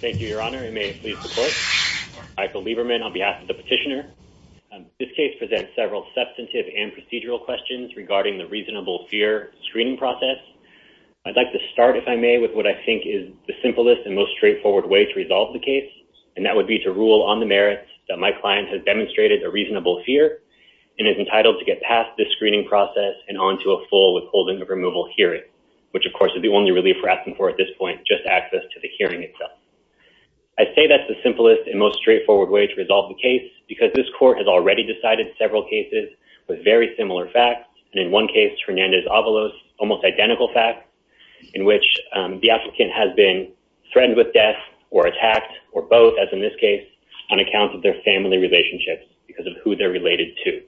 Thank you, Your Honor, and may it please the court. Michael Lieberman on behalf of the petitioner. This case presents several substantive and procedural questions regarding the reasonable fear screening process. I'd like to start, if I may, with what I think is the simplest and most straightforward way to resolve the case, and that would be to rule on the merits that my client has demonstrated a reasonable fear and is entitled to get past this screening process and on to a full withholding of removal hearing, which, of course, is the only relief we're asking for at this point, just access to the hearing itself. I say that's the simplest and most straightforward way to resolve the case because this court has already decided several cases with very similar facts, and in one case, Fernandez-Avalos, almost identical fact, in which the applicant has been threatened with death or attacked, or both, as in this case, on account of their family relationships because of who they're related to.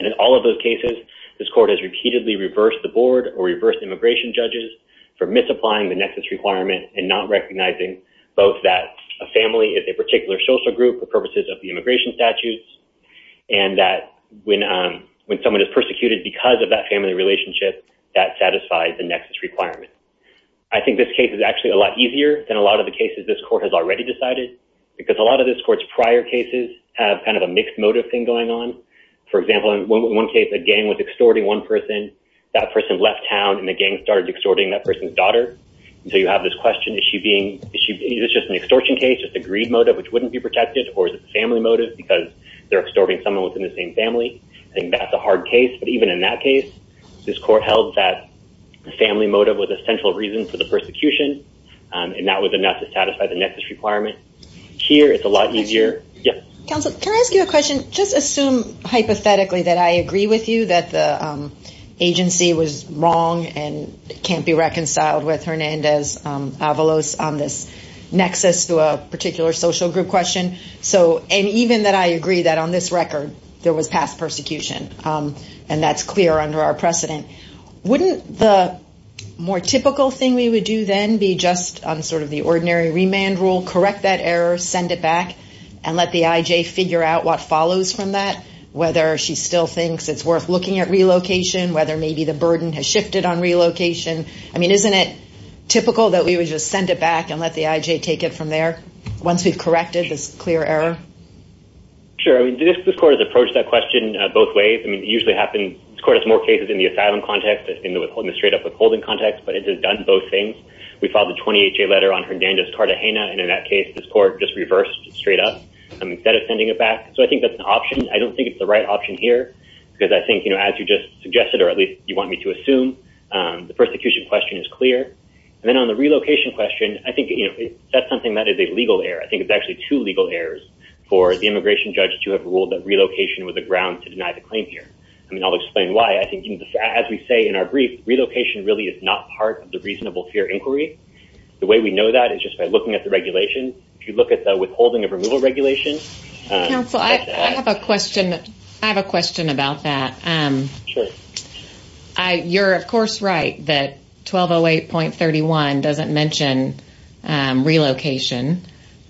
And in all of those cases, this court has repeatedly reversed the board or reversed immigration judges for misapplying the nexus requirement and not recognizing both that a family is a particular social group for purposes of the immigration statutes and that when someone is persecuted because of that family relationship, that satisfies the nexus requirement. I think this case is actually a lot easier than a lot of the cases this court has already decided because a lot of this court's prior cases have kind of a mixed motive thing going on. For example, in one case, a gang was extorting one person. That person left town and the gang started extorting that person's daughter. And so you have this question, is she being— is this just an extortion case, just a greed motive, which wouldn't be protected, or is it a family motive because they're extorting someone within the same family? I think that's a hard case, but even in that case, this court held that family motive was a central reason for the persecution and that was enough to satisfy the nexus requirement. Here, it's a lot easier— Yeah? Counsel, can I ask you a question? Just assume, hypothetically, that I agree with you that the agency was wrong and can't be reconciled with Hernandez-Avalos on this nexus to a particular social group question. So—and even that I agree that on this record, there was past persecution, and that's clear under our precedent. Wouldn't the more typical thing we would do then be just on sort of the ordinary remand rule, correct that error, send it back, and let the I.J. figure out what follows from that, whether she still thinks it's worth looking at relocation, whether maybe the burden has shifted on relocation? I mean, isn't it typical that we would just send it back and let the I.J. take it from there, once we've corrected this clear error? Sure, I mean, this court has approached that question both ways. I mean, it usually happens— this court has more cases in the asylum context than in the straight-up withholding context, but it has done both things. We filed the 20HA letter on Hernandez-Cartagena, and in that case, this court just reversed straight up instead of sending it back. So I think that's an option. I don't think it's the right option here, because I think, you know, as you just suggested, or at least you want me to assume, the persecution question is clear. And then on the relocation question, I think, you know, that's something that is a legal error. I think it's actually two legal errors for the immigration judge to have ruled that relocation was a ground to deny the claim here. I mean, I'll explain why. I think, as we say in our brief, relocation really is not part of the reasonable fear inquiry. The way we know that is just by looking at the regulation. If you look at the withholding of removal regulation— Counsel, I have a question. I have a question about that. You're, of course, right that 1208.31 doesn't mention relocation.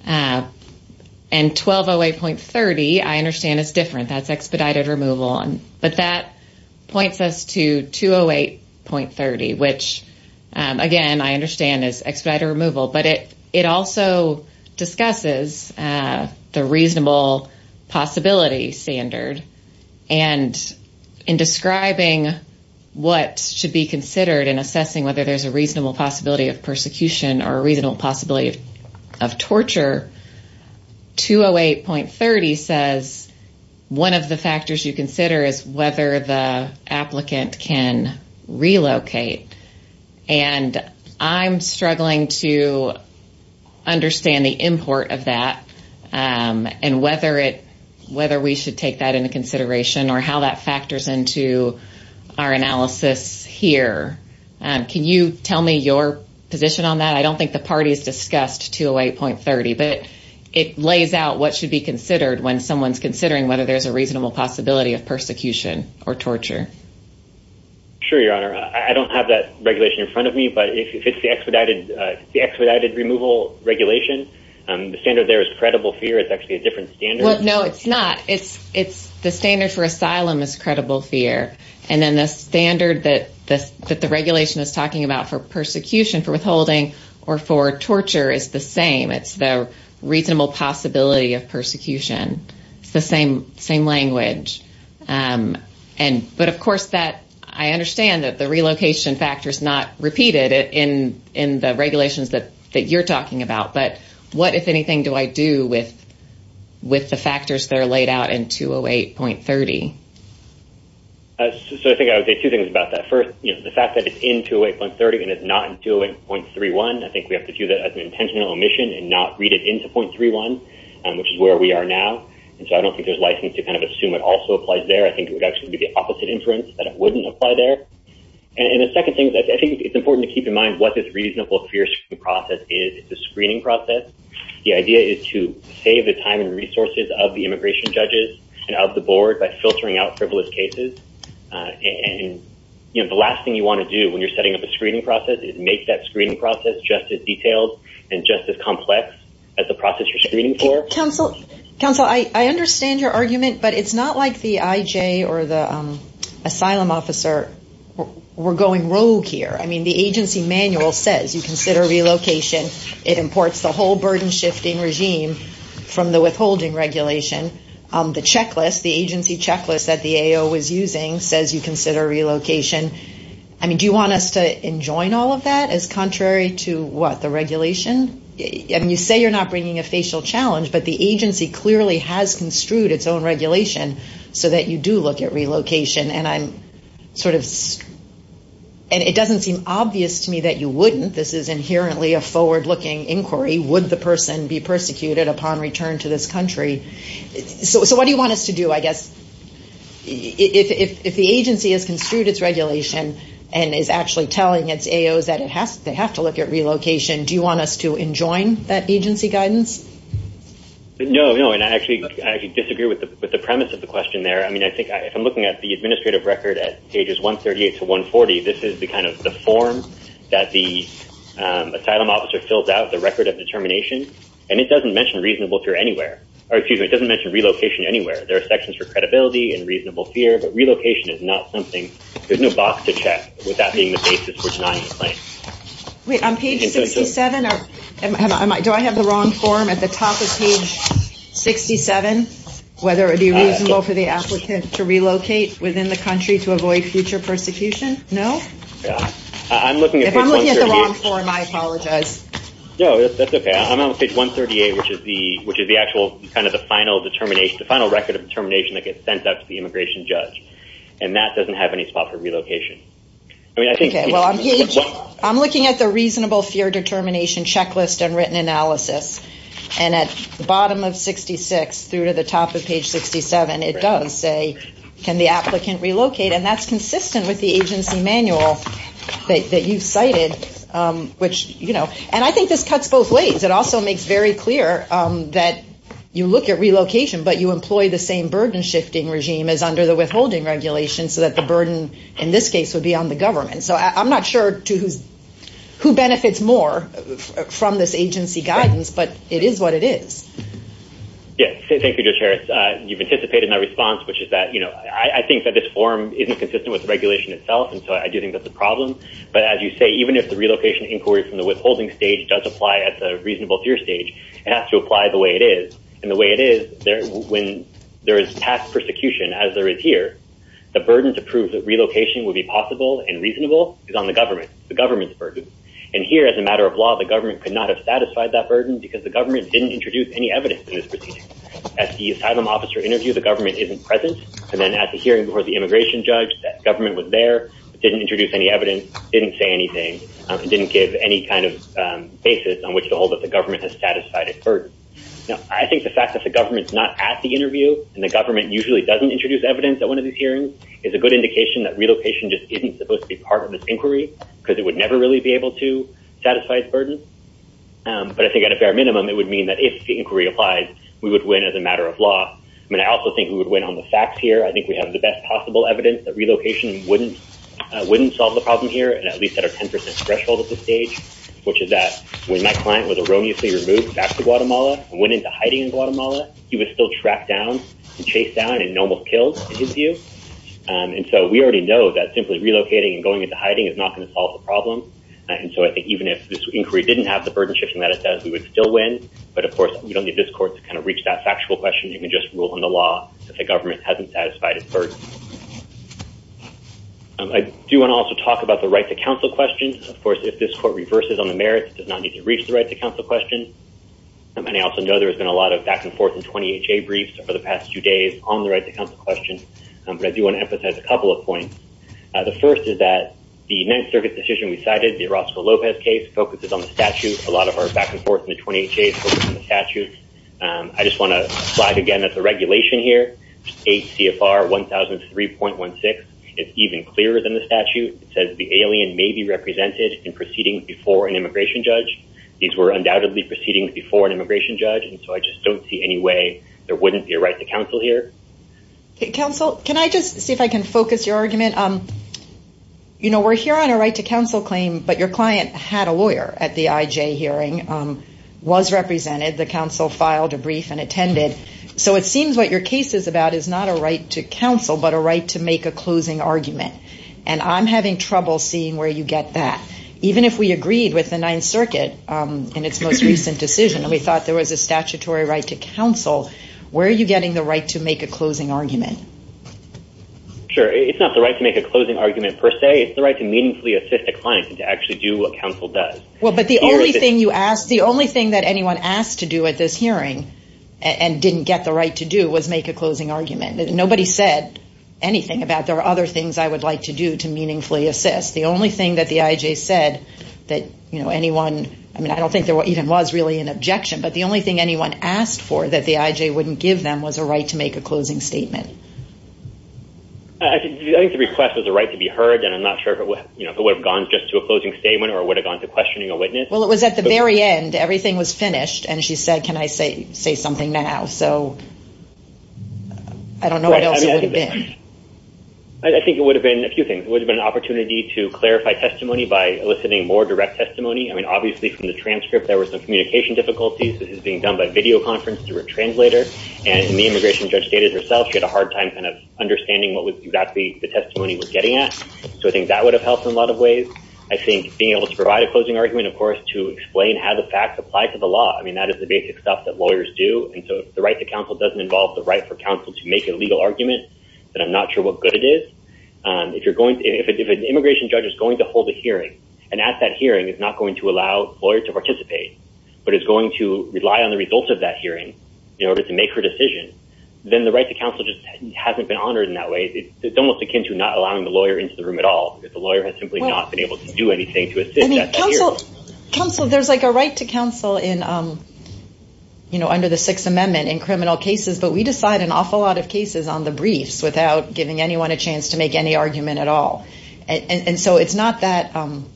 And 1208.30, I understand, is different. That's expedited removal. But that points us to 208.30, which, again, I understand is expedited removal. But it also discusses the reasonable possibility standard. And in describing what should be considered in assessing whether there's a reasonable possibility of persecution or a reasonable possibility of torture, 208.30 says one of the factors you consider is whether the applicant can relocate. And I'm struggling to understand the import of that and whether we should take that into consideration or how that factors into our analysis here. Can you tell me your position on that? I don't think the parties discussed 208.30, but it lays out what should be considered when someone's considering whether there's a reasonable possibility of persecution or torture. Sure, Your Honor. I don't have that regulation in front of me, but if it's the expedited removal regulation, the standard there is credible fear. It's actually a different standard. Well, no, it's not. It's the standard for asylum is credible fear. And then the standard that the regulation is talking about for persecution, for withholding, or for torture is the same. It's the reasonable possibility of persecution. It's the same language. But of course, I understand that the relocation factor is not repeated in the regulations that you're talking about. But what, if anything, do I do with the factors that are laid out in 208.30? So I think I would say two things about that. First, the fact that it's in 208.30 and it's not in 208.31, I think we have to view that as an intentional omission and not read it into .31, which is where we are now. And so I don't think there's license to kind of assume it also applies there. I think it would actually be the opposite inference that it wouldn't apply there. And the second thing, I think it's important to keep in mind what this reasonable fear screening process is. It's a screening process. The idea is to save the time and resources of the immigration judges and of the board by filtering out frivolous cases. And the last thing you want to do when you're setting up a screening process is make that screening process just as detailed and just as complex as the process you're screening for. Counsel, I understand your argument, but it's not like the IJ or the asylum officer were going rogue here. I mean, the agency manual says you consider relocation. It imports the whole burden-shifting regime from the withholding regulation. The checklist, the agency checklist that the AO was using says you consider relocation. I mean, do you want us to enjoin all of that as contrary to what, the regulation? I mean, you say you're not bringing a facial challenge, but the agency clearly has construed its own regulation so that you do look at relocation, and I'm sort of, and it doesn't seem obvious to me that you wouldn't. This is inherently a forward-looking inquiry. Would the person be persecuted upon return to this country? So what do you want us to do, I guess? If the agency has construed its regulation and is actually telling its AOs that they have to look at relocation, do you want us to enjoin that agency guidance? No, no, and I actually disagree with the premise of the question there. I mean, I think if I'm looking at the administrative record at pages 138 to 140, this is the kind of the form that the asylum officer fills out, the record of determination, and it doesn't mention reasonable fear anywhere. Or excuse me, it doesn't mention relocation anywhere. There are sections for credibility and reasonable fear, but relocation is not something. There's no box to check without being the basis for denying the claim. Wait, on page 67, do I have the wrong form? At the top of page 67, whether it be reasonable for the applicant to relocate within the country to avoid future persecution? No? If I'm looking at the wrong form, I apologize. No, that's okay. I'm on page 138, which is the actual kind of the final determination, the final record of determination that gets sent out to the immigration judge, and that doesn't have any spot for relocation. Okay, well, I'm looking at the reasonable fear determination checklist and written analysis, and at the bottom of 66 through to the top of page 67, it does say, can the applicant relocate? And that's consistent with the agency manual that you've cited, which, you know, and I think this cuts both ways. It also makes very clear that you look at relocation, but you employ the same burden-shifting regime as under the withholding regulation so that the burden in this case would be on the government. So I'm not sure who benefits more from this agency guidance, but it is what it is. Yes, thank you, Judge Harris. You've anticipated my response, which is that, you know, I think that this form isn't consistent with the regulation itself, and so I do think that's a problem, but as you say, even if the relocation inquiry from the withholding stage does apply at the reasonable fear stage, it has to apply the way it is, and the way it is when there is past persecution as there is here, the burden to prove that relocation would be possible and reasonable is on the government, the government's burden, and here, as a matter of law, the government could not have satisfied that burden because the government didn't introduce any evidence in this procedure. At the asylum officer interview, the government isn't present, and then at the hearing before the immigration judge, that government was there, didn't introduce any evidence, didn't say anything, didn't give any kind of basis on which to hold that the government has satisfied its burden. Now, I think the fact that the government's not at the interview and the government usually doesn't introduce evidence at one of these hearings is a good indication that relocation just isn't supposed to be part of this inquiry because it would never really be able to satisfy its burden, but I think at a fair minimum, it would mean that if the inquiry applies, we would win as a matter of law. I mean, I also think we would win on the facts here. I think we have the best possible evidence that relocation wouldn't solve the problem here and at least at a 10% threshold at this stage, which is that when my client was erroneously removed back to Guatemala and went into hiding in Guatemala, he was still tracked down and chased down and almost killed, in his view. And so we already know that simply relocating and going into hiding is not going to solve the problem. And so I think even if this inquiry didn't have the burden shifting that it does, we would still win. But of course, we don't need this court to kind of reach that factual question. You can just rule in the law that the government hasn't satisfied its burden. I do want to also talk about the right to counsel question. Of course, if this court reverses on the merits, it does not need to reach the right to counsel question. And I also know there has been a lot of back and forth in 20HA briefs over the past few days on the right to counsel question. But I do want to emphasize a couple of points. The first is that the Ninth Circuit decision we cited, the Orozco-Lopez case, focuses on the statute. A lot of our back and forth in the 20HA is focused on the statute. I just want to flag again that the regulation here, 8 CFR 1003.16, is even clearer than the statute. It says the alien may be represented in proceedings before an immigration judge. These were undoubtedly proceedings before an immigration judge. And so I just don't see any way there wouldn't be a right to counsel here. Counsel, can I just see if I can focus your argument? We're here on a right to counsel claim, but your client had a lawyer at the IJ hearing, was represented. The counsel filed a brief and attended. So it seems what your case is about is not a right to counsel, but a right to make a closing argument. And I'm having trouble seeing where you get that. Even if we agreed with the Ninth Circuit in its most recent decision, and we said there was a statutory right to counsel, where are you getting the right to make a closing argument? Sure. It's not the right to make a closing argument per se. It's the right to meaningfully assist a client and to actually do what counsel does. Well, but the only thing you asked, the only thing that anyone asked to do at this hearing and didn't get the right to do was make a closing argument. Nobody said anything about there are other things I would like to do to meaningfully assist. The only thing that the IJ said that anyone, I mean, I don't think there even was really an objection. But the only thing anyone asked for that the IJ wouldn't give them was a right to make a closing statement. I think the request was a right to be heard. And I'm not sure if it would have gone just to a closing statement or would have gone to questioning a witness. Well, it was at the very end. Everything was finished. And she said, can I say something now? So I don't know what else it would have been. I think it would have been a few things. to clarify testimony by eliciting more direct testimony. I mean, obviously, from the transcript there were some communication difficulties. This is being done by videoconference through a translator. And the immigration judge stated herself she had a hard time understanding what exactly the testimony was getting at. So I think that would have helped in a lot of ways. I think being able to provide a closing argument, of course, to explain how the facts apply to the law. I mean, that is the basic stuff that lawyers do. And so if the right to counsel doesn't involve the right for counsel to make a legal argument, then I'm not sure what good it is. If an immigration judge is going to hold a hearing and at that hearing is not going to allow a lawyer to participate, but is going to rely on the results of that hearing in order to make her decision, then the right to counsel just hasn't been honored in that way. It's almost akin to not allowing the lawyer into the room at all. If the lawyer has simply not been able to do anything to assist at that hearing. Counsel, there's like a right to counsel in, you know, under the Sixth Amendment in criminal cases, but we decide an awful lot of cases on the briefs without giving anyone a chance to make any argument at all. And so it's not that, I'm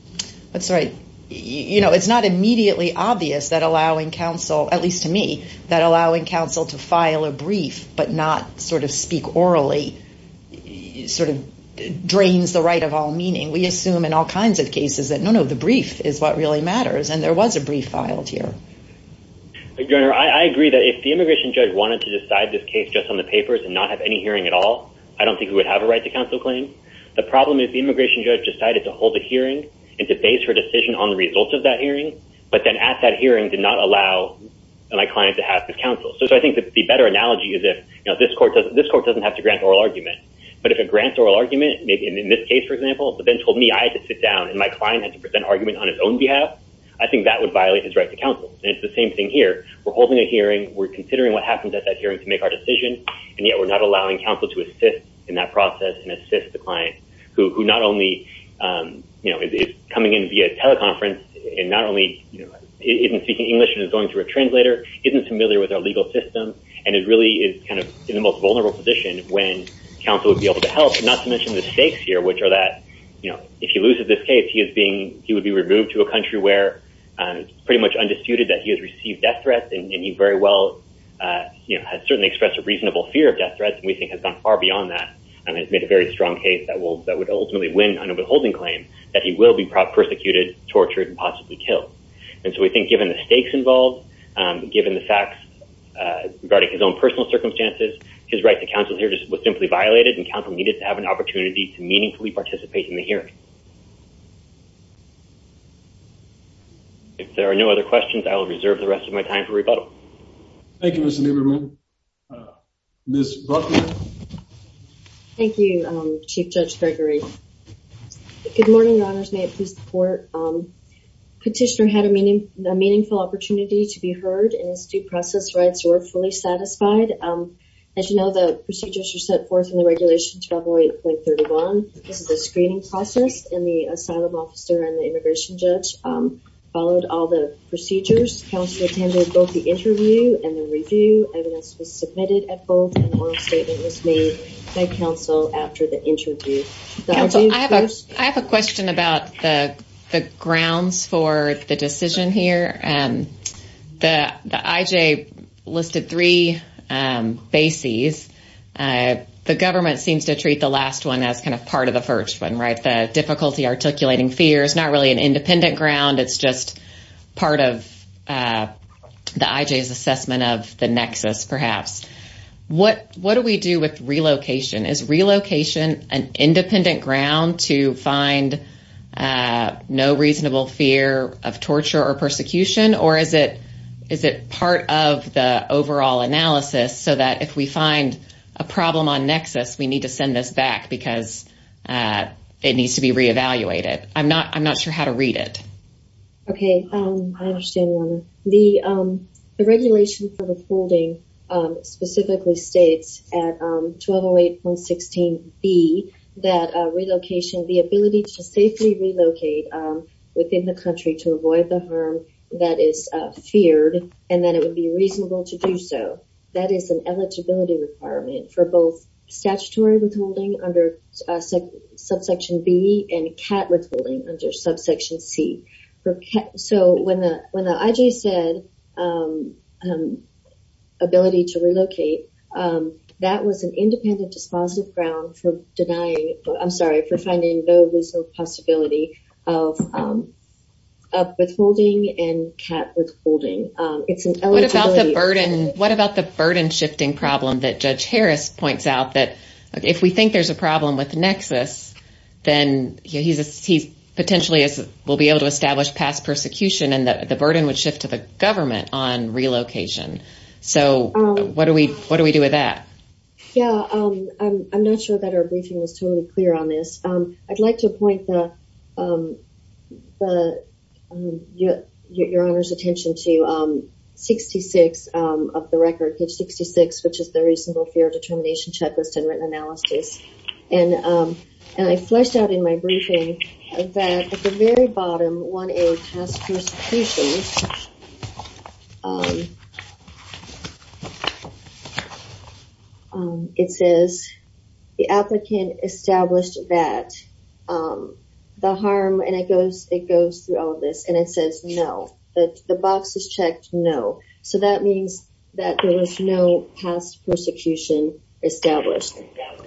sorry, you know, it's not immediately obvious that allowing counsel, at least to me, that allowing counsel to file a brief but not sort of speak orally sort of drains the right of all meaning. We assume in all kinds of cases that no, no, the brief is what really matters. And there was a brief filed here. Your Honor, I agree that if the immigration judge wanted to decide this case just on the papers and not have any hearing at all, I don't think we would have a right to counsel claim. The problem is the immigration judge decided to hold a hearing and to base her decision on the results of that hearing, but then at that hearing did not allow my client to have his counsel. So I think the better analogy is if, you know, this court doesn't have to grant oral argument, but if it grants oral argument, maybe in this case, for example, but then told me I had to sit down and my client had to present argument on his own behalf, I think that would violate his right to counsel. And it's the same thing here. We're holding a hearing. We're considering what happens at that hearing to make our decision. And yet we're not allowing counsel to assist in that process and assist the client who not only, you know, is coming in via teleconference and not only isn't speaking English and is going through a translator, isn't familiar with our legal system, and it really is kind of in the most vulnerable position when counsel would be able to help, not to mention the stakes here, which are that, you know, if he loses this case, he is being, he would be removed to a country where it's pretty much undisputed that he has received death threats and he very well, you know, has certainly expressed a reasonable fear of death threats and we think has gone far beyond that and has made a very strong case that would ultimately win on a withholding claim that he will be prosecuted, tortured, and possibly killed. And so we think given the stakes involved, given the facts regarding his own personal circumstances, his right to counsel here just was simply violated and counsel needed to have an opportunity to meaningfully participate in the hearing. If there are no other questions, I will reserve the rest of my time for rebuttal. Thank you, Mr. Lieberman. Thank you, Ms. Buckner. Thank you, Chief Judge Gregory. Good morning, your honors. May it please the court. Petitioner had a meaningful opportunity to be heard and his due process rights were fully satisfied. As you know, the procedures were set forth in the regulation 1208.31. This is a screening process and the asylum officer and the immigration judge followed all the procedures. Counsel attended both the interview and the review, evidence was submitted at both and the oral statement was made by counsel after the interview. Counsel, I have a question about the grounds for the decision here. The IJ listed three bases. The government seems to treat the last one as kind of part of the first one, right? The difficulty articulating fear is not really an independent ground. It's just part of the IJ's assessment of the nexus, perhaps. What do we do with relocation? Is relocation an independent ground to find no reasonable fear of torture or persecution or is it part of the overall analysis so that if we find a problem on nexus, we need to send this back because it needs to be reevaluated? I'm not sure how to read it. Okay, I understand your honor. The regulation for withholding specifically states at 1208.16B that relocation, the ability to safely relocate within the country to avoid the harm that is feared and that it would be reasonable to do so. That is an eligibility requirement for both statutory withholding under subsection B and CAT withholding under subsection C. So when the IJ said ability to relocate, that was an independent dispositive ground for denying, I'm sorry, for finding no reasonable possibility of withholding and CAT withholding. It's an eligibility. What about the burden shifting problem that Judge Harris points out that if we think there's a problem with nexus, then he potentially will be able to establish past persecution and that the burden would shift to the government on relocation. So what do we do with that? Yeah, I'm not sure that our briefing was totally clear on this. I'd like to point your honor's attention to 66 of the record, page 66, which is the reasonable fear determination checklist and written analysis. And I fleshed out in my briefing that at the very bottom, 1A, past persecution, it says the applicant established that the harm, and it goes through all of this, and it says no, the box is checked no. So that means that there was no past persecution established.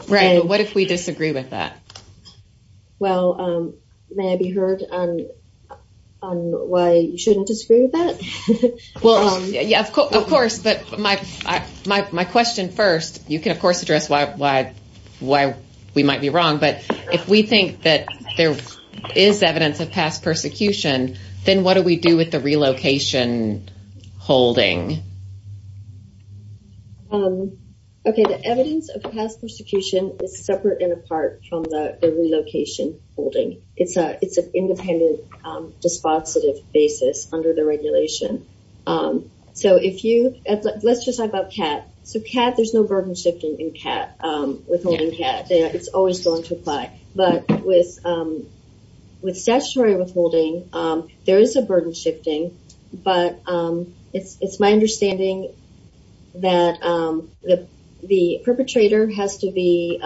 Right, but what if we disagree with that? Well, may I be heard on why you shouldn't disagree with that? Well, yeah, of course, but my question first, you can, of course, address why we might be wrong, but if we think that there is evidence of past persecution, then what do we do with the relocation holding? Okay, the evidence of past persecution is separate and apart from the relocation holding. It's an independent dispositive basis under the regulation. So if you, let's just talk about CAT. So CAT, there's no burden shifting in CAT, withholding CAT, it's always going to apply. But with statutory withholding, there is a burden shifting, but it's my understanding that the perpetrator has to be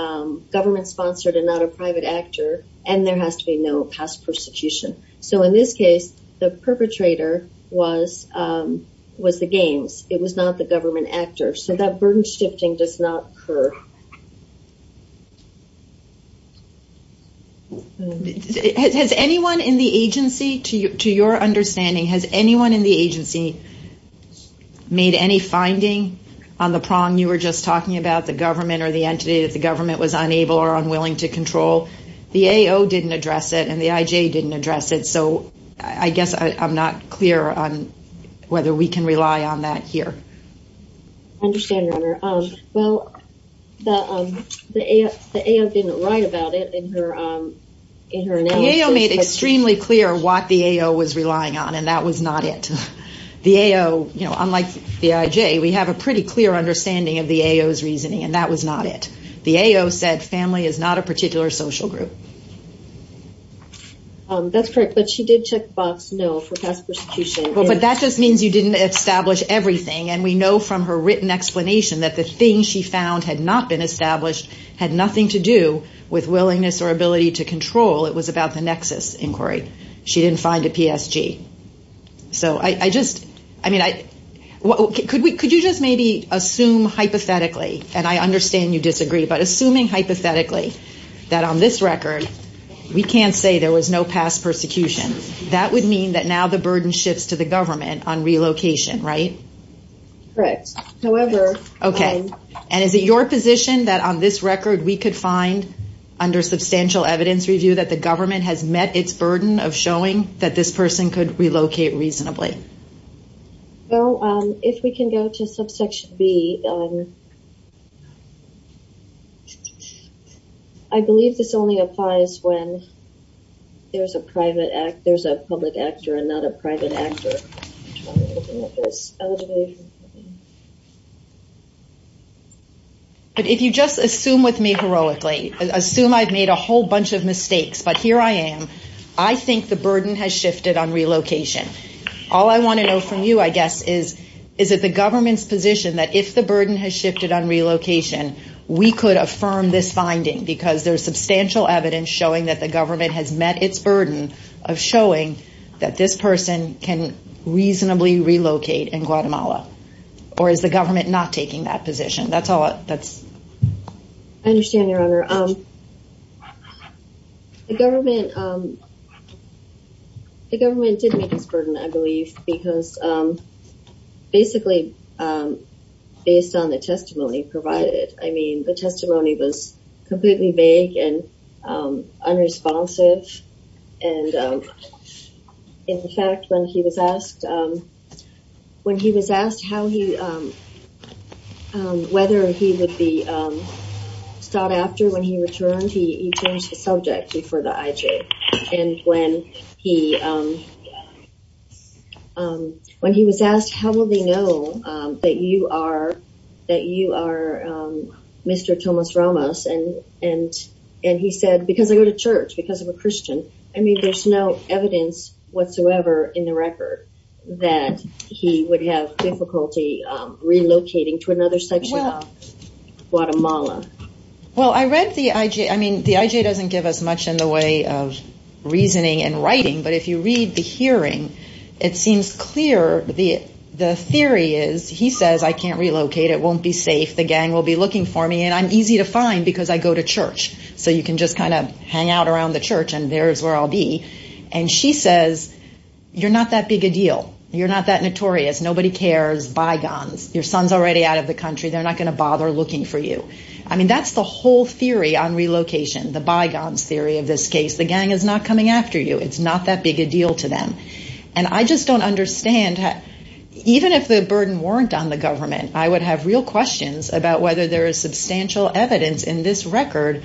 government-sponsored and not a private actor, and there has to be no past persecution. So in this case, the perpetrator was the games. It was not the government actor. So that burden shifting does not occur. Has anyone in the agency, to your understanding, has anyone in the agency made any finding on the prong you were just talking about, the government or the entity that the government was unable or unwilling to control? The AO didn't address it, and the IJ didn't address it. So I guess I'm not clear on whether we can rely on that here. I understand, Your Honor. Well, the AO didn't write about it in her analysis. The AO made extremely clear what the AO was relying on, and that was not it. The AO, unlike the IJ, we have a pretty clear understanding of the AO's reasoning, and that was not it. The AO said family is not a particular social group. That's correct, but she did check box no for past persecution. But that just means you didn't establish everything, and we know from her written explanation that the thing she found had not been established, had nothing to do with willingness or ability to control. It was about the nexus inquiry. She didn't find a PSG. So I just, I mean, could you just maybe assume hypothetically, and I understand you disagree, but assuming hypothetically that on this record we can't say there was no past persecution. That would mean that now the burden shifts to the government on relocation, right? Correct, however- Okay, and is it your position that on this record we could find under substantial evidence review that the government has met its burden of showing that this person could relocate reasonably? Well, if we can go to subsection B, I believe this only applies when there's a private, there's a public actor and not a private actor. But if you just assume with me heroically, assume I've made a whole bunch of mistakes, but here I am. I think the burden has shifted on relocation. All I want to know from you, I guess, is is it the government's position that if the burden has shifted on relocation, we could affirm this finding because there's substantial evidence showing that the government has met its burden of showing that this person can reasonably relocate in Guatemala? Or is the government not taking that position? That's all, that's- The government did meet its burden, I believe, because basically based on the testimony provided, I mean, the testimony was completely vague and unresponsive. And in fact, when he was asked, when he was asked how he, whether he would be sought after when he returned, he changed the subject for the IJ. And when he was asked, how will they know that you are Mr. Tomas Ramos? And he said, because I go to church, because I'm a Christian. I mean, there's no evidence whatsoever in the record that he would have difficulty relocating to another section of Guatemala. Well, I read the IJ. I mean, the IJ doesn't give us much in the way of reasoning and writing. But if you read the hearing, it seems clear the theory is, he says, I can't relocate. It won't be safe. The gang will be looking for me. And I'm easy to find because I go to church. So you can just kind of hang out around the church and there's where I'll be. And she says, you're not that big a deal. You're not that notorious. Nobody cares, bygones. Your son's already out of the country. They're not going to bother looking for you. I mean, that's the whole theory on relocation, the bygones theory of this case. The gang is not coming after you. It's not that big a deal to them. And I just don't understand, even if the burden weren't on the government, I would have real questions about whether there is substantial evidence in this record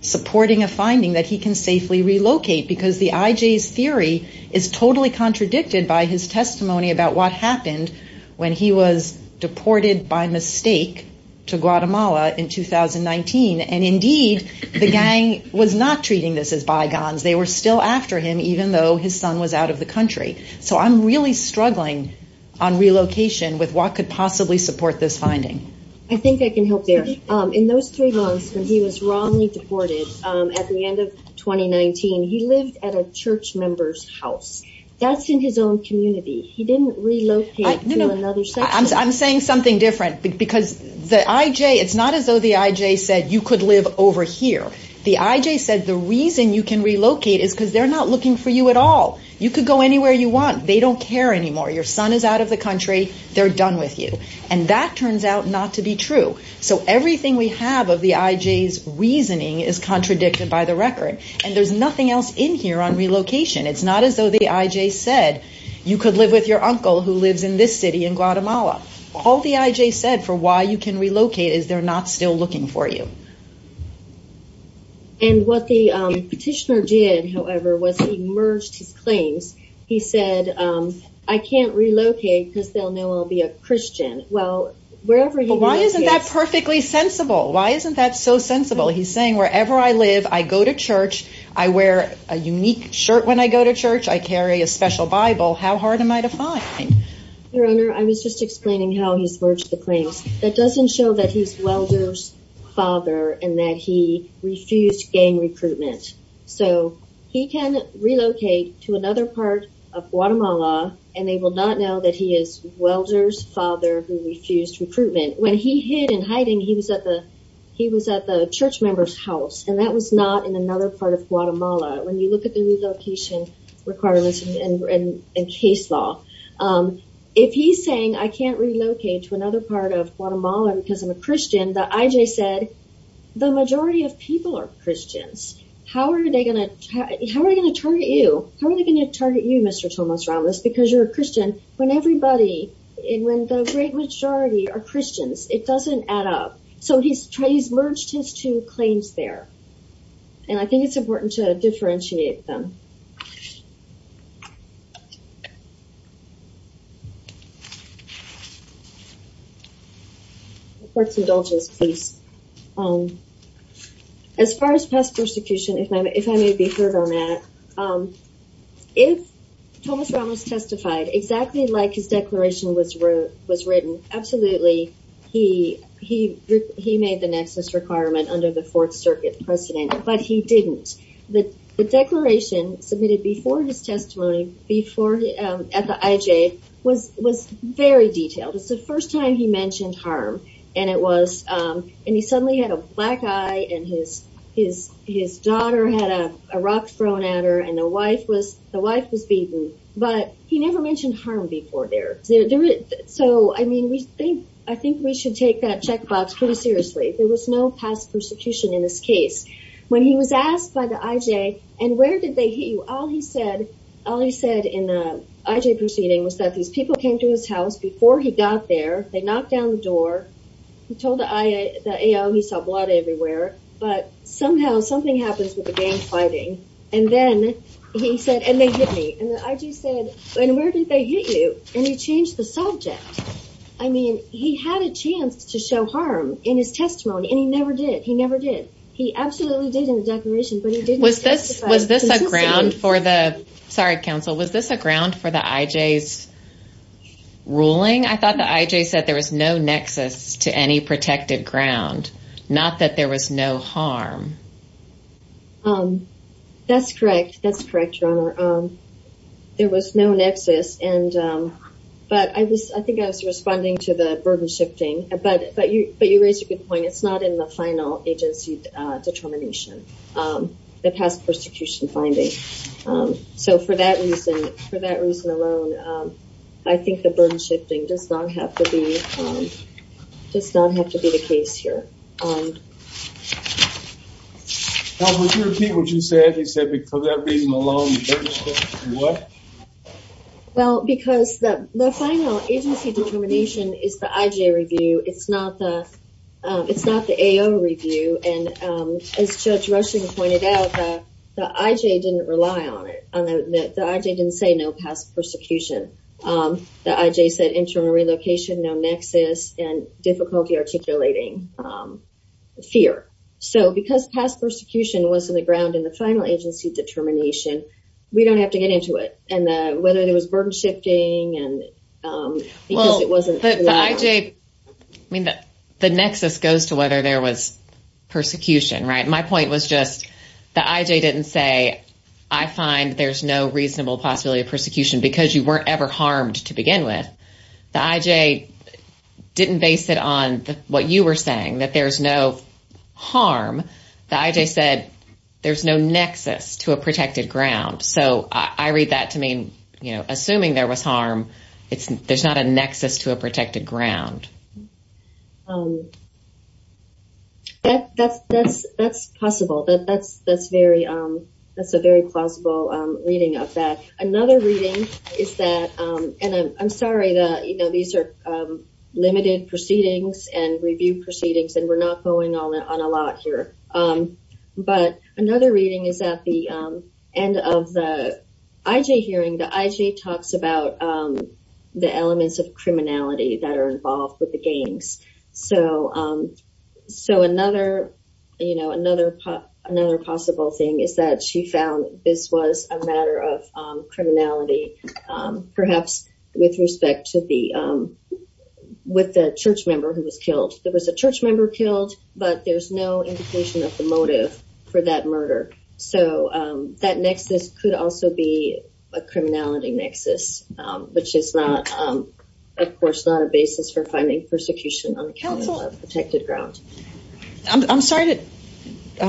supporting a finding that he can safely relocate. Because the IJ's theory is totally contradicted by his testimony about what happened when he was deported by mistake to Guatemala in 2019. And indeed, the gang was not treating this as bygones. They were still after him, even though his son was out of the country. So I'm really struggling on relocation with what could possibly support this finding. I think I can help there. In those three months when he was wrongly deported at the end of 2019, he lived at a church member's house. That's in his own community. He didn't relocate to another section. I'm saying something different because the IJ, it's not as though the IJ said you could live over here. The IJ said the reason you can relocate is because they're not looking for you at all. You could go anywhere you want. They don't care anymore. Your son is out of the country. They're done with you. And that turns out not to be true. So everything we have of the IJ's reasoning is contradicted by the record. And there's nothing else in here on relocation. It's not as though the IJ said you could live with your uncle who lives in this city in Guatemala. All the IJ said for why you can relocate is they're not still looking for you. And what the petitioner did, however, was he merged his claims. He said, I can't relocate because they'll know I'll be a Christian. Well, wherever he- Well, why isn't that perfectly sensible? Why isn't that so sensible? He's saying wherever I live, I go to church, I wear a unique shirt when I go to church, I carry a special Bible. How hard am I to find? Your Honor, I was just explaining how he's merged the claims. That doesn't show that he's Welder's father and that he refused gang recruitment. So he can relocate to another part of Guatemala and they will not know that he is Welder's father who refused recruitment. When he hid in hiding, he was at the church member's house and that was not in another part of Guatemala. When you look at the relocation requirements and case law, if he's saying I can't relocate to another part of Guatemala because I'm a Christian, the IJ said, the majority of people are Christians. How are they going to target you? How are they going to target you, Mr. Tomas Ramos, because you're a Christian when everybody, when the great majority are Christians? It doesn't add up. So he's merged his two claims there. And I think it's important to differentiate them. I'm going to read the report to you. The report's indulgent, please. As far as past persecution, if I may be heard on that, if Tomas Ramos testified exactly like his declaration was written, absolutely he made the nexus requirement under the Fourth Circuit precedent, but he didn't. The declaration submitted before his testimony at the IJ was very detailed. It's the first time he mentioned harm. And it was, and he suddenly had a black eye and his daughter had a rock thrown at her and the wife was beaten. But he never mentioned harm before there. So, I mean, we think, I think we should take that checkbox pretty seriously. There was no past persecution in this case. When he was asked by the IJ, and where did they hit you? All he said, all he said in the IJ proceeding was that these people came to his house before he got there. They knocked down the door. He told the AO he saw blood everywhere. But somehow something happens with the gang fighting. And then he said, and they hit me. And the IJ said, and where did they hit you? And he changed the subject. I mean, he had a chance to show harm in his testimony. And he never did. He never did. He absolutely did in the declaration, but he didn't testify. Was this a ground for the, sorry, counsel, was this a ground for the IJ's ruling? I thought the IJ said there was no nexus to any protected ground, not that there was no harm. That's correct. That's correct, Your Honor. There was no nexus. And, but I was, I think I was responding to the burden shifting. But you raised a good point. It's not in the final agency determination, the past persecution finding. So for that reason, for that reason alone, I think the burden shifting does not have to be, does not have to be the case here. Counsel, would you repeat what you said? You said for that reason alone, the burden shifting, what? Well, because the final agency determination is the IJ review. It's not the AO review. And as Judge Rushing pointed out, the IJ didn't rely on it. The IJ didn't say no past persecution. The IJ said internal relocation, no nexus, and difficulty articulating fear. So because past persecution was in the ground in the final agency determination, we don't have to get into it. And whether there was burden shifting and because it wasn't. The IJ, I mean, the nexus goes to whether there was persecution, right? My point was just the IJ didn't say, I find there's no reasonable possibility of persecution because you weren't ever harmed to begin with. The IJ didn't base it on what you were saying, that there's no harm. The IJ said there's no nexus to a protected ground. So I read that to mean, you know, assuming there was harm, there's not a nexus to a protected ground. That's possible. That's a very plausible reading of that. Another reading is that, and I'm sorry that, you know, these are limited proceedings and review proceedings, and we're not going on a lot here. But another reading is at the end of the IJ hearing, the IJ talks about the elements of criminality that are involved with the gangs. So another, you know, another possible thing is that she found this was a matter of criminality, perhaps with respect to the, with the church member who was killed. There was a church member killed, but there's no indication of the motive for that murder. So that nexus could also be a criminality nexus, which is not, of course, not a basis for finding persecution on the Council of Protected Grounds. I'm sorry to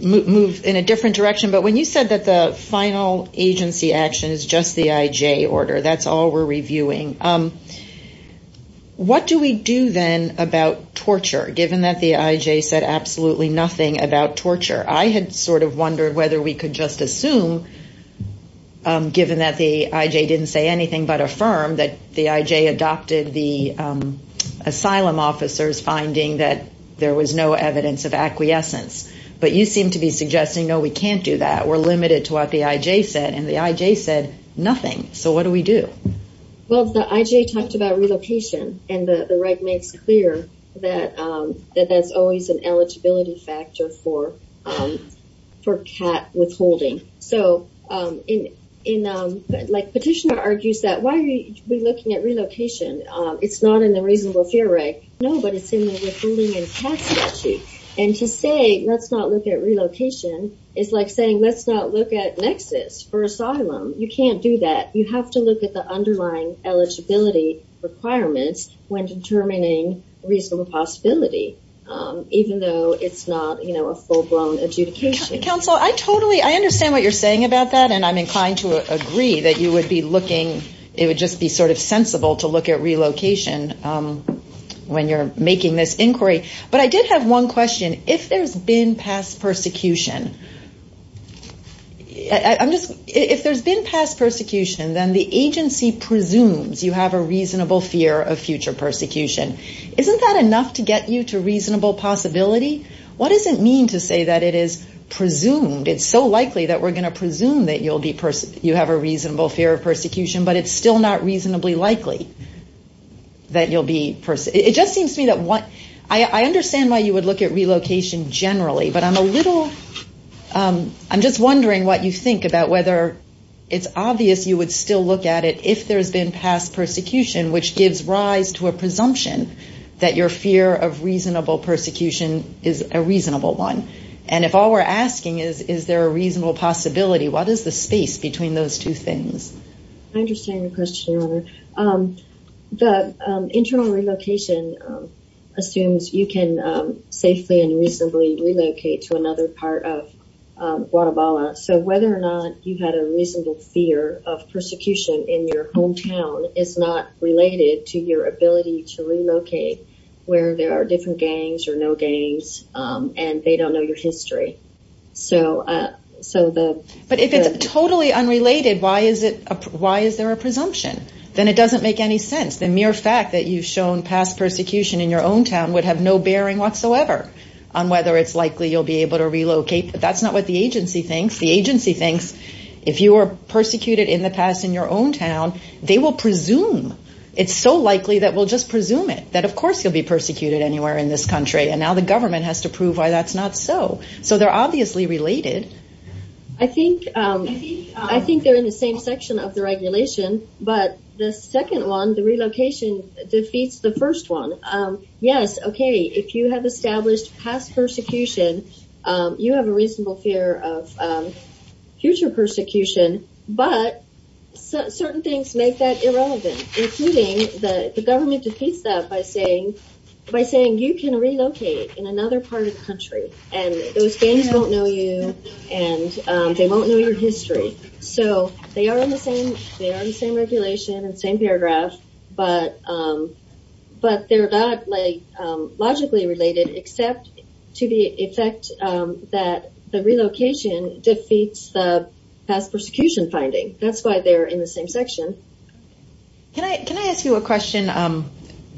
move in a different direction, but when you said that the final agency action is just the IJ order, that's all we're reviewing. What do we do then about torture, given that the IJ said absolutely nothing about torture? I had sort of wondered whether we could just assume, given that the IJ didn't say anything but affirm, that the IJ adopted the asylum officers finding that there was no evidence of acquiescence. But you seem to be suggesting, no, we can't do that. We're limited to what the IJ said, and the IJ said nothing. So what do we do? Well, the IJ talked about relocation, and the reg makes clear that that's always an eligibility factor for CAT withholding. So Petitioner argues that why are we looking at relocation? It's not in the reasonable fear reg. No, but it's in the withholding in CAT statute. And to say let's not look at relocation is like saying let's not look at nexus for asylum. You can't do that. You have to look at the underlying eligibility requirements when determining reasonable possibility, even though it's not a full-blown adjudication. Counsel, I totally, I understand what you're saying about that, and I'm inclined to agree that you would be looking, it would just be sort of sensible to look at relocation when you're making this inquiry. But I did have one question. If there's been past persecution, I'm just, if there's been past persecution, then the agency presumes you have a reasonable fear of future persecution. Isn't that enough to get you to reasonable possibility? What does it mean to say that it is presumed, it's so likely that we're going to presume that you have a reasonable fear of persecution, but it's still not reasonably likely that you'll be, it just seems to me that what, I understand why you would look at relocation generally, but I'm a little, I'm just wondering what you think about whether it's obvious you would still look at it if there's been past persecution, which gives rise to a presumption that your fear of reasonable persecution is a reasonable one. And if all we're asking is, is there a reasonable possibility, what is the space between those two things? I understand your question, Your Honor. The internal relocation assumes you can safely and reasonably relocate to another part of Guatemala. So whether or not you had a reasonable fear of persecution in your hometown is not related to your ability to relocate where there are different gangs or no gangs and they don't know your history. So the... But if it's totally unrelated, why is there a presumption? Then it doesn't make any sense. The mere fact that you've shown past persecution in your hometown would have no bearing whatsoever on whether it's likely you'll be able to relocate. But that's not what the agency thinks. The agency thinks if you were persecuted in the past in your own town, they will presume. It's so likely that we'll just presume it, that of course you'll be persecuted anywhere in this country, and now the government has to prove why that's not so. So they're obviously related. I think they're in the same section of the regulation, but the second one, the relocation, defeats the first one. Yes, okay, if you have established past persecution, you have a reasonable fear of future persecution, but certain things make that irrelevant, including the government defeats that by saying you can relocate in another part of the country and those gangs won't know you and they won't know your history. So they are in the same regulation and same paragraph, but they're not logically related except to the effect that the relocation defeats the past persecution finding. That's why they're in the same section. Can I ask you a question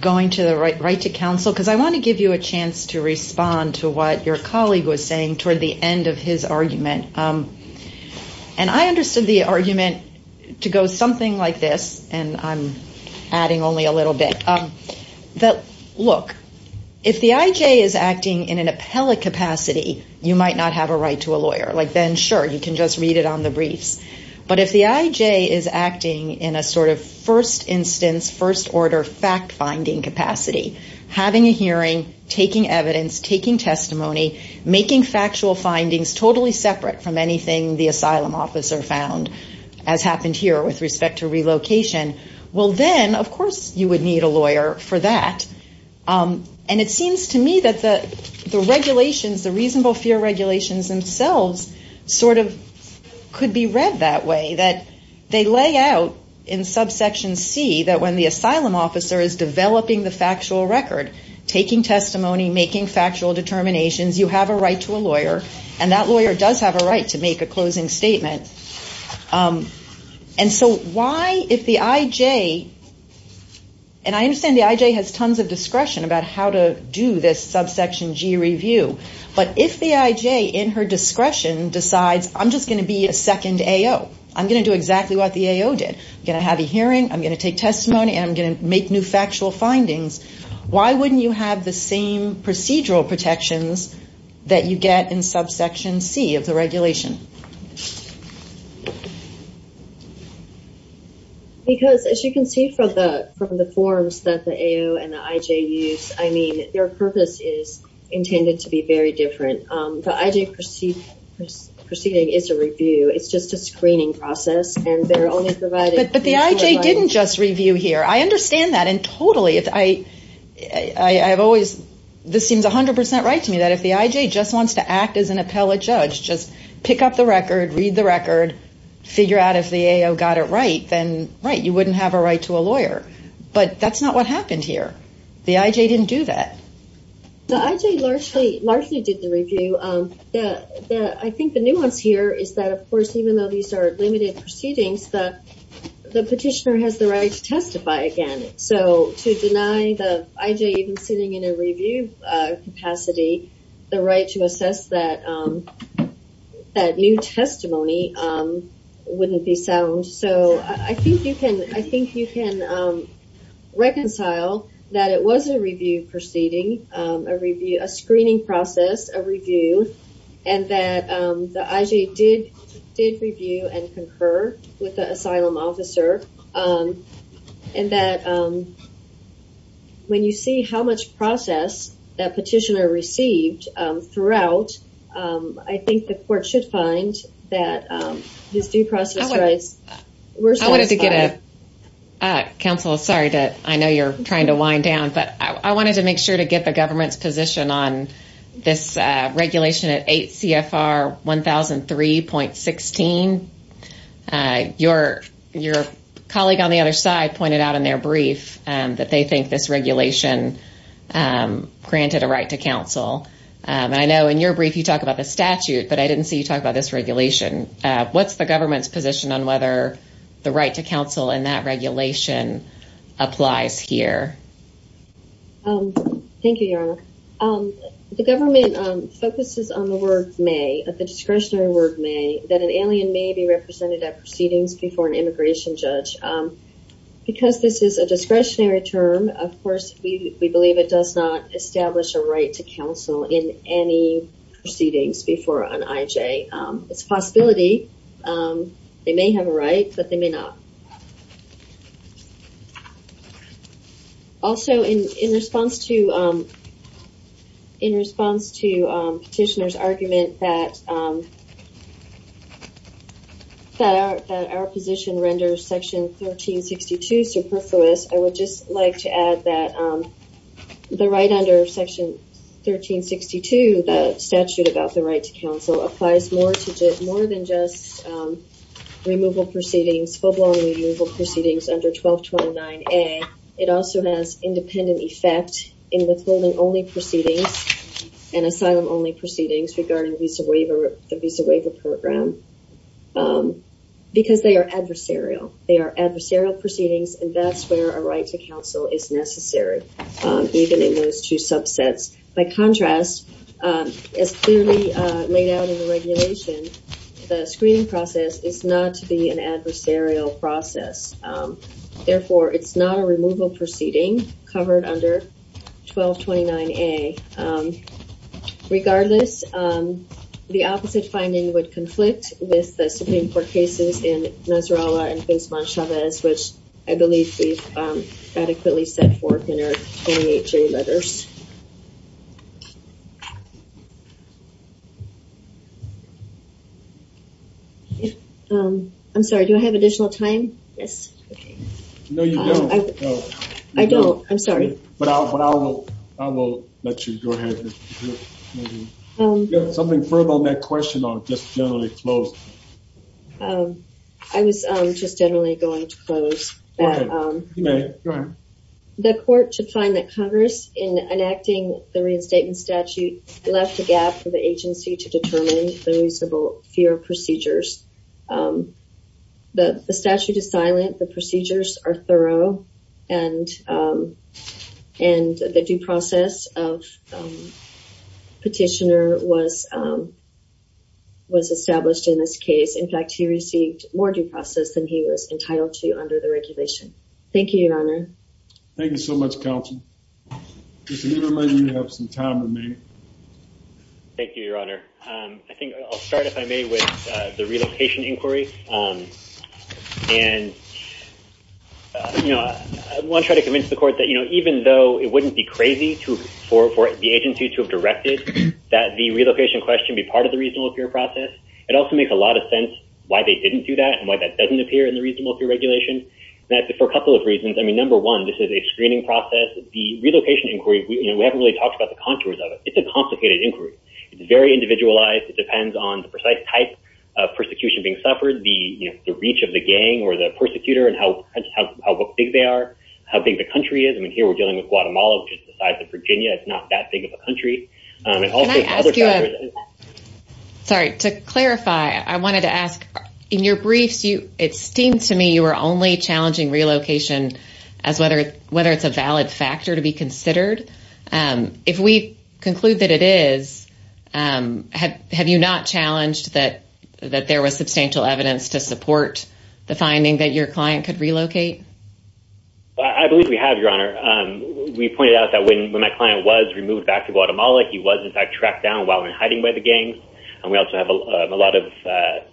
going right to counsel? Because I want to give you a chance to respond to what your colleague was saying toward the end of his argument. And I understood the argument to go something like this, and I'm adding only a little bit. Look, if the IJ is acting in an appellate capacity, you might not have a right to a lawyer. Like then, sure, you can just read it on the briefs. But if the IJ is acting in a sort of first instance, first order fact-finding capacity, having a hearing, taking evidence, taking testimony, making factual findings totally separate from anything the asylum officer found, as happened here with respect to relocation, well then, of course, you would need a lawyer for that. And it seems to me that the regulations, the reasonable fear regulations themselves sort of could be read that way, that they lay out in subsection C that when the asylum officer is developing the factual record, taking testimony, making factual determinations, you have a right to a lawyer, and that lawyer does have a right to make a closing statement. And so why if the IJ, and I understand the IJ has tons of discretion about how to do this subsection G review, but if the IJ in her discretion decides, I'm just going to be a second AO. I'm going to do exactly what the AO did. I'm going to have a hearing, I'm going to take testimony, and I'm going to make new factual findings. Why wouldn't you have the same procedural protections that you get in subsection C of the regulation? Because, as you can see from the forms that the AO and the IJ use, I mean, their purpose is intended to be very different. The IJ proceeding is a review. It's just a screening process, and they're only providing But the IJ didn't just review here. I understand that, and totally, I have always, this seems 100 percent right to me, that if the IJ just wants to act as an appellate judge, just pick up the record, read the record, figure out if the AO got it right, then right. You wouldn't have a right to a lawyer. But that's not what happened here. The IJ didn't do that. The IJ largely did the review. I think the nuance here is that, of course, even though these are limited proceedings, the petitioner has the right to testify again. So to deny the IJ even sitting in a review capacity the right to assess that new testimony wouldn't be sound. So I think you can reconcile that it was a review proceeding, a screening process, a review, and that the IJ did review and concur with the asylum officer, and that when you see how much process that petitioner received throughout, I think the court should find that these due process rights were satisfied. I wanted to get a... Counsel, sorry, I know you're trying to wind down, but I wanted to make sure to get the government's position on this regulation at 8 CFR 1003.16. Your colleague on the other side pointed out in their brief that they think this regulation granted a right to counsel. I know in your brief you talk about the statute, but I didn't see you talk about this regulation. What's the government's position on whether the right to counsel in that regulation applies here? Thank you, Your Honor. The government focuses on the word may, the discretionary word may, that an alien may be represented at proceedings before an immigration judge. Because this is a discretionary term, of course we believe it does not establish a right to counsel in any proceedings before an IJ. It's a possibility. They may have a right, but they may not. Also, in response to petitioner's argument that our position renders Section 1362 superfluous, I would just like to add that the right under Section 1362, the statute about the right to counsel, applies more than just removal proceedings, full-blown removal proceedings under 1229A. It also has independent effect in withholding only proceedings and asylum-only proceedings regarding the visa waiver program because they are adversarial. They are adversarial proceedings, and that's where a right to counsel is necessary, even in those two subsets. By contrast, as clearly laid out in the regulation, the screening process is not to be an adversarial process. Therefore, it's not a removal proceeding covered under 1229A. Regardless, the opposite finding would conflict with the Supreme Court cases in Nasrallah and Pince-Montchavez, which I believe we've adequately set forth in our 28J letters. I'm sorry. Do I have additional time? Yes. No, you don't. I don't. I'm sorry. But I will let you go ahead. Something further on that question or just generally closed? I was just generally going to close. Okay. You may. Go ahead. The court should find that Congress, in enacting the reinstatement statute, left a gap for the agency to determine the reasonable fear of procedures. The statute is silent. The procedures are thorough, and the due process of petitioner was established in this case. In fact, he received more due process than he was entitled to under the regulation. Thank you, Your Honor. Thank you so much, Counsel. Mr. Nieman, you have some time to make. Thank you, Your Honor. I think I'll start, if I may, with the relocation inquiry. And I want to try to convince the court that, you know, even though it wouldn't be crazy for the agency to have directed that the relocation question be part of the reasonable fear process, it also makes a lot of sense why they didn't do that and why that doesn't appear in the reasonable fear regulation. For a couple of reasons. I mean, number one, this is a screening process. The relocation inquiry, you know, we haven't really talked about the contours of it. It's a complicated inquiry. It's very individualized. It depends on the precise type of persecution being suffered, the reach of the gang or the persecutor and how big they are, how big the country is. I mean, here we're dealing with Guatemala, which is the size of Virginia. It's not that big of a country. Sorry, to clarify, I wanted to ask, in your briefs, it seemed to me, you were only challenging relocation as whether it's a valid factor to be considered. If we conclude that it is, have you not challenged that there was substantial evidence to support the finding that your client could relocate? I believe we have, Your Honor. We pointed out that when my client was removed back to Guatemala, he was in fact tracked down while in hiding by the gangs. And we also have a lot of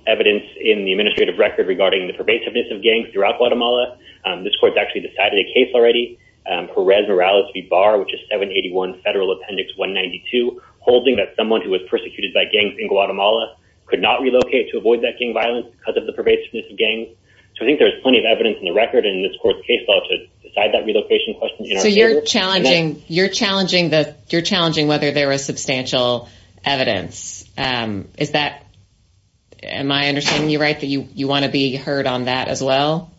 evidence in the administrative record regarding the pervasiveness of gangs throughout Guatemala. This court's actually decided a case already. Perez Morales V. Barr, which is 781 Federal Appendix 192, holding that someone who was persecuted by gangs in Guatemala could not relocate to avoid that gang violence because of the pervasiveness of gangs. So I think there's plenty of evidence in the record in this court's case as well to decide that relocation question in our favor. So you're challenging whether there was substantial evidence. Am I understanding you right that you want to be heard on that as well?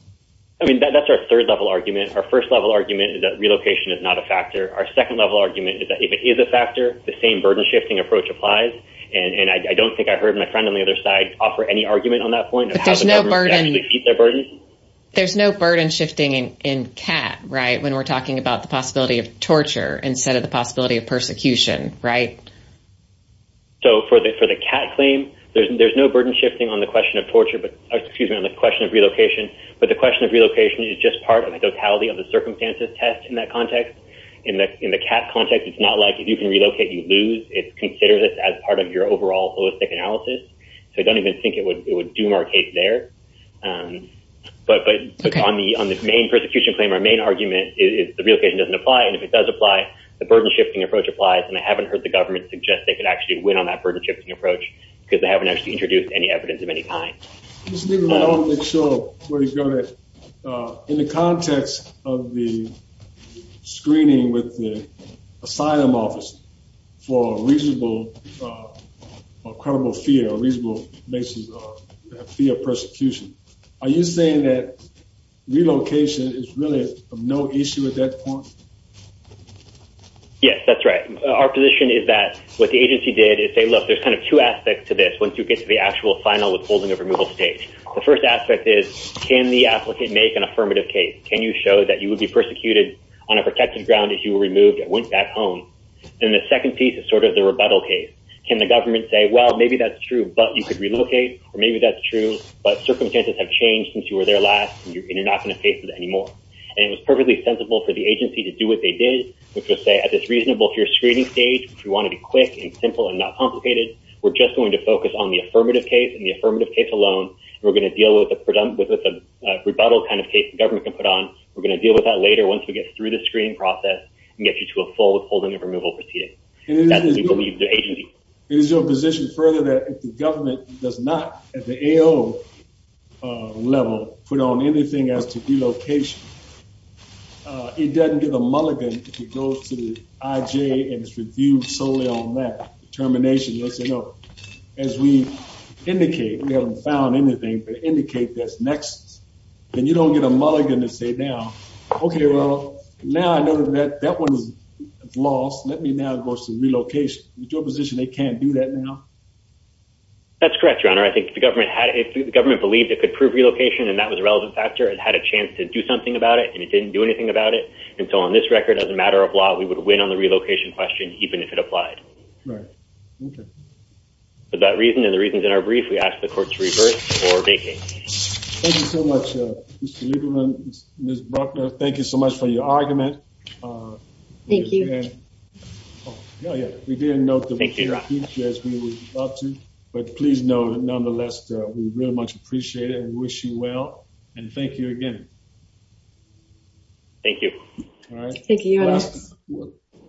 I mean, that's our third-level argument. Our first-level argument is that relocation is not a factor. Our second-level argument is that if it is a factor, the same burden-shifting approach applies. And I don't think I heard my friend on the other side offer any argument on that point of how the government could actually meet their burden. There's no burden-shifting in CAT, right, when we're talking about the possibility of torture instead of the possibility of persecution, right? So for the CAT claim, there's no burden-shifting on the question of relocation, but the question of relocation is just part of the totality of the circumstances test in that context. In the CAT context, it's not like if you can relocate, you lose. It's considered as part of your overall holistic analysis. So I don't even think it would doom our case there. But on the main persecution claim, our main argument is the relocation doesn't apply, and if it does apply, the burden-shifting approach applies. And I haven't heard the government suggest they could actually win on that burden-shifting approach because they haven't actually introduced any evidence of any kind. Just to make sure where you're going, in the context of the screening with the asylum office for reasonable or unreasonable basis via persecution, are you saying that relocation is really of no issue at that point? Yes, that's right. Our position is that what the agency did is say, look, there's kind of two aspects to this once you get to the actual final withholding of removal stage. The first aspect is can the applicant make an affirmative case? Can you show that you would be persecuted on a protected ground if you were removed and went back home? Then the second piece is sort of the rebuttal case. Can the government say, well, maybe that's true, but you could relocate, or maybe that's true, but circumstances have changed since you were there last, and you're not going to face it anymore. And it was perfectly sensible for the agency to do what they did, which was say, as it's reasonable for your screening stage, if you want to be quick and simple and not complicated, we're just going to focus on the affirmative case and the affirmative case alone, and we're going to deal with a rebuttal kind of case the government can put on. We're going to deal with that later once we get through the screening process and get you to a full withholding of removal proceeding. It is your position further that if the government does not, at the AO level, put on anything as to relocation, it doesn't get a mulligan if it goes to the IJ and it's reviewed solely on that determination. They'll say, no, as we indicate, we haven't found anything, but indicate that's next. Then you don't get a mulligan to say now, okay, well, now I know that that one is lost. Let me now go to relocation. It's your position they can't do that now? That's correct, Your Honor. I think the government believed it could prove relocation and that was a relevant factor. It had a chance to do something about it and it didn't do anything about it. And so on this record, as a matter of law, we would win on the relocation question, even if it applied. Right. Okay. For that reason and the reasons in our brief, we ask the court to revert or vacate. Thank you so much, Mr. Lieberman, Ms. Bruckner. Thank you so much for your argument. Thank you. We didn't know. But please know that nonetheless, we really much appreciate it. We wish you well. And thank you again. Thank you. All right. Thank you.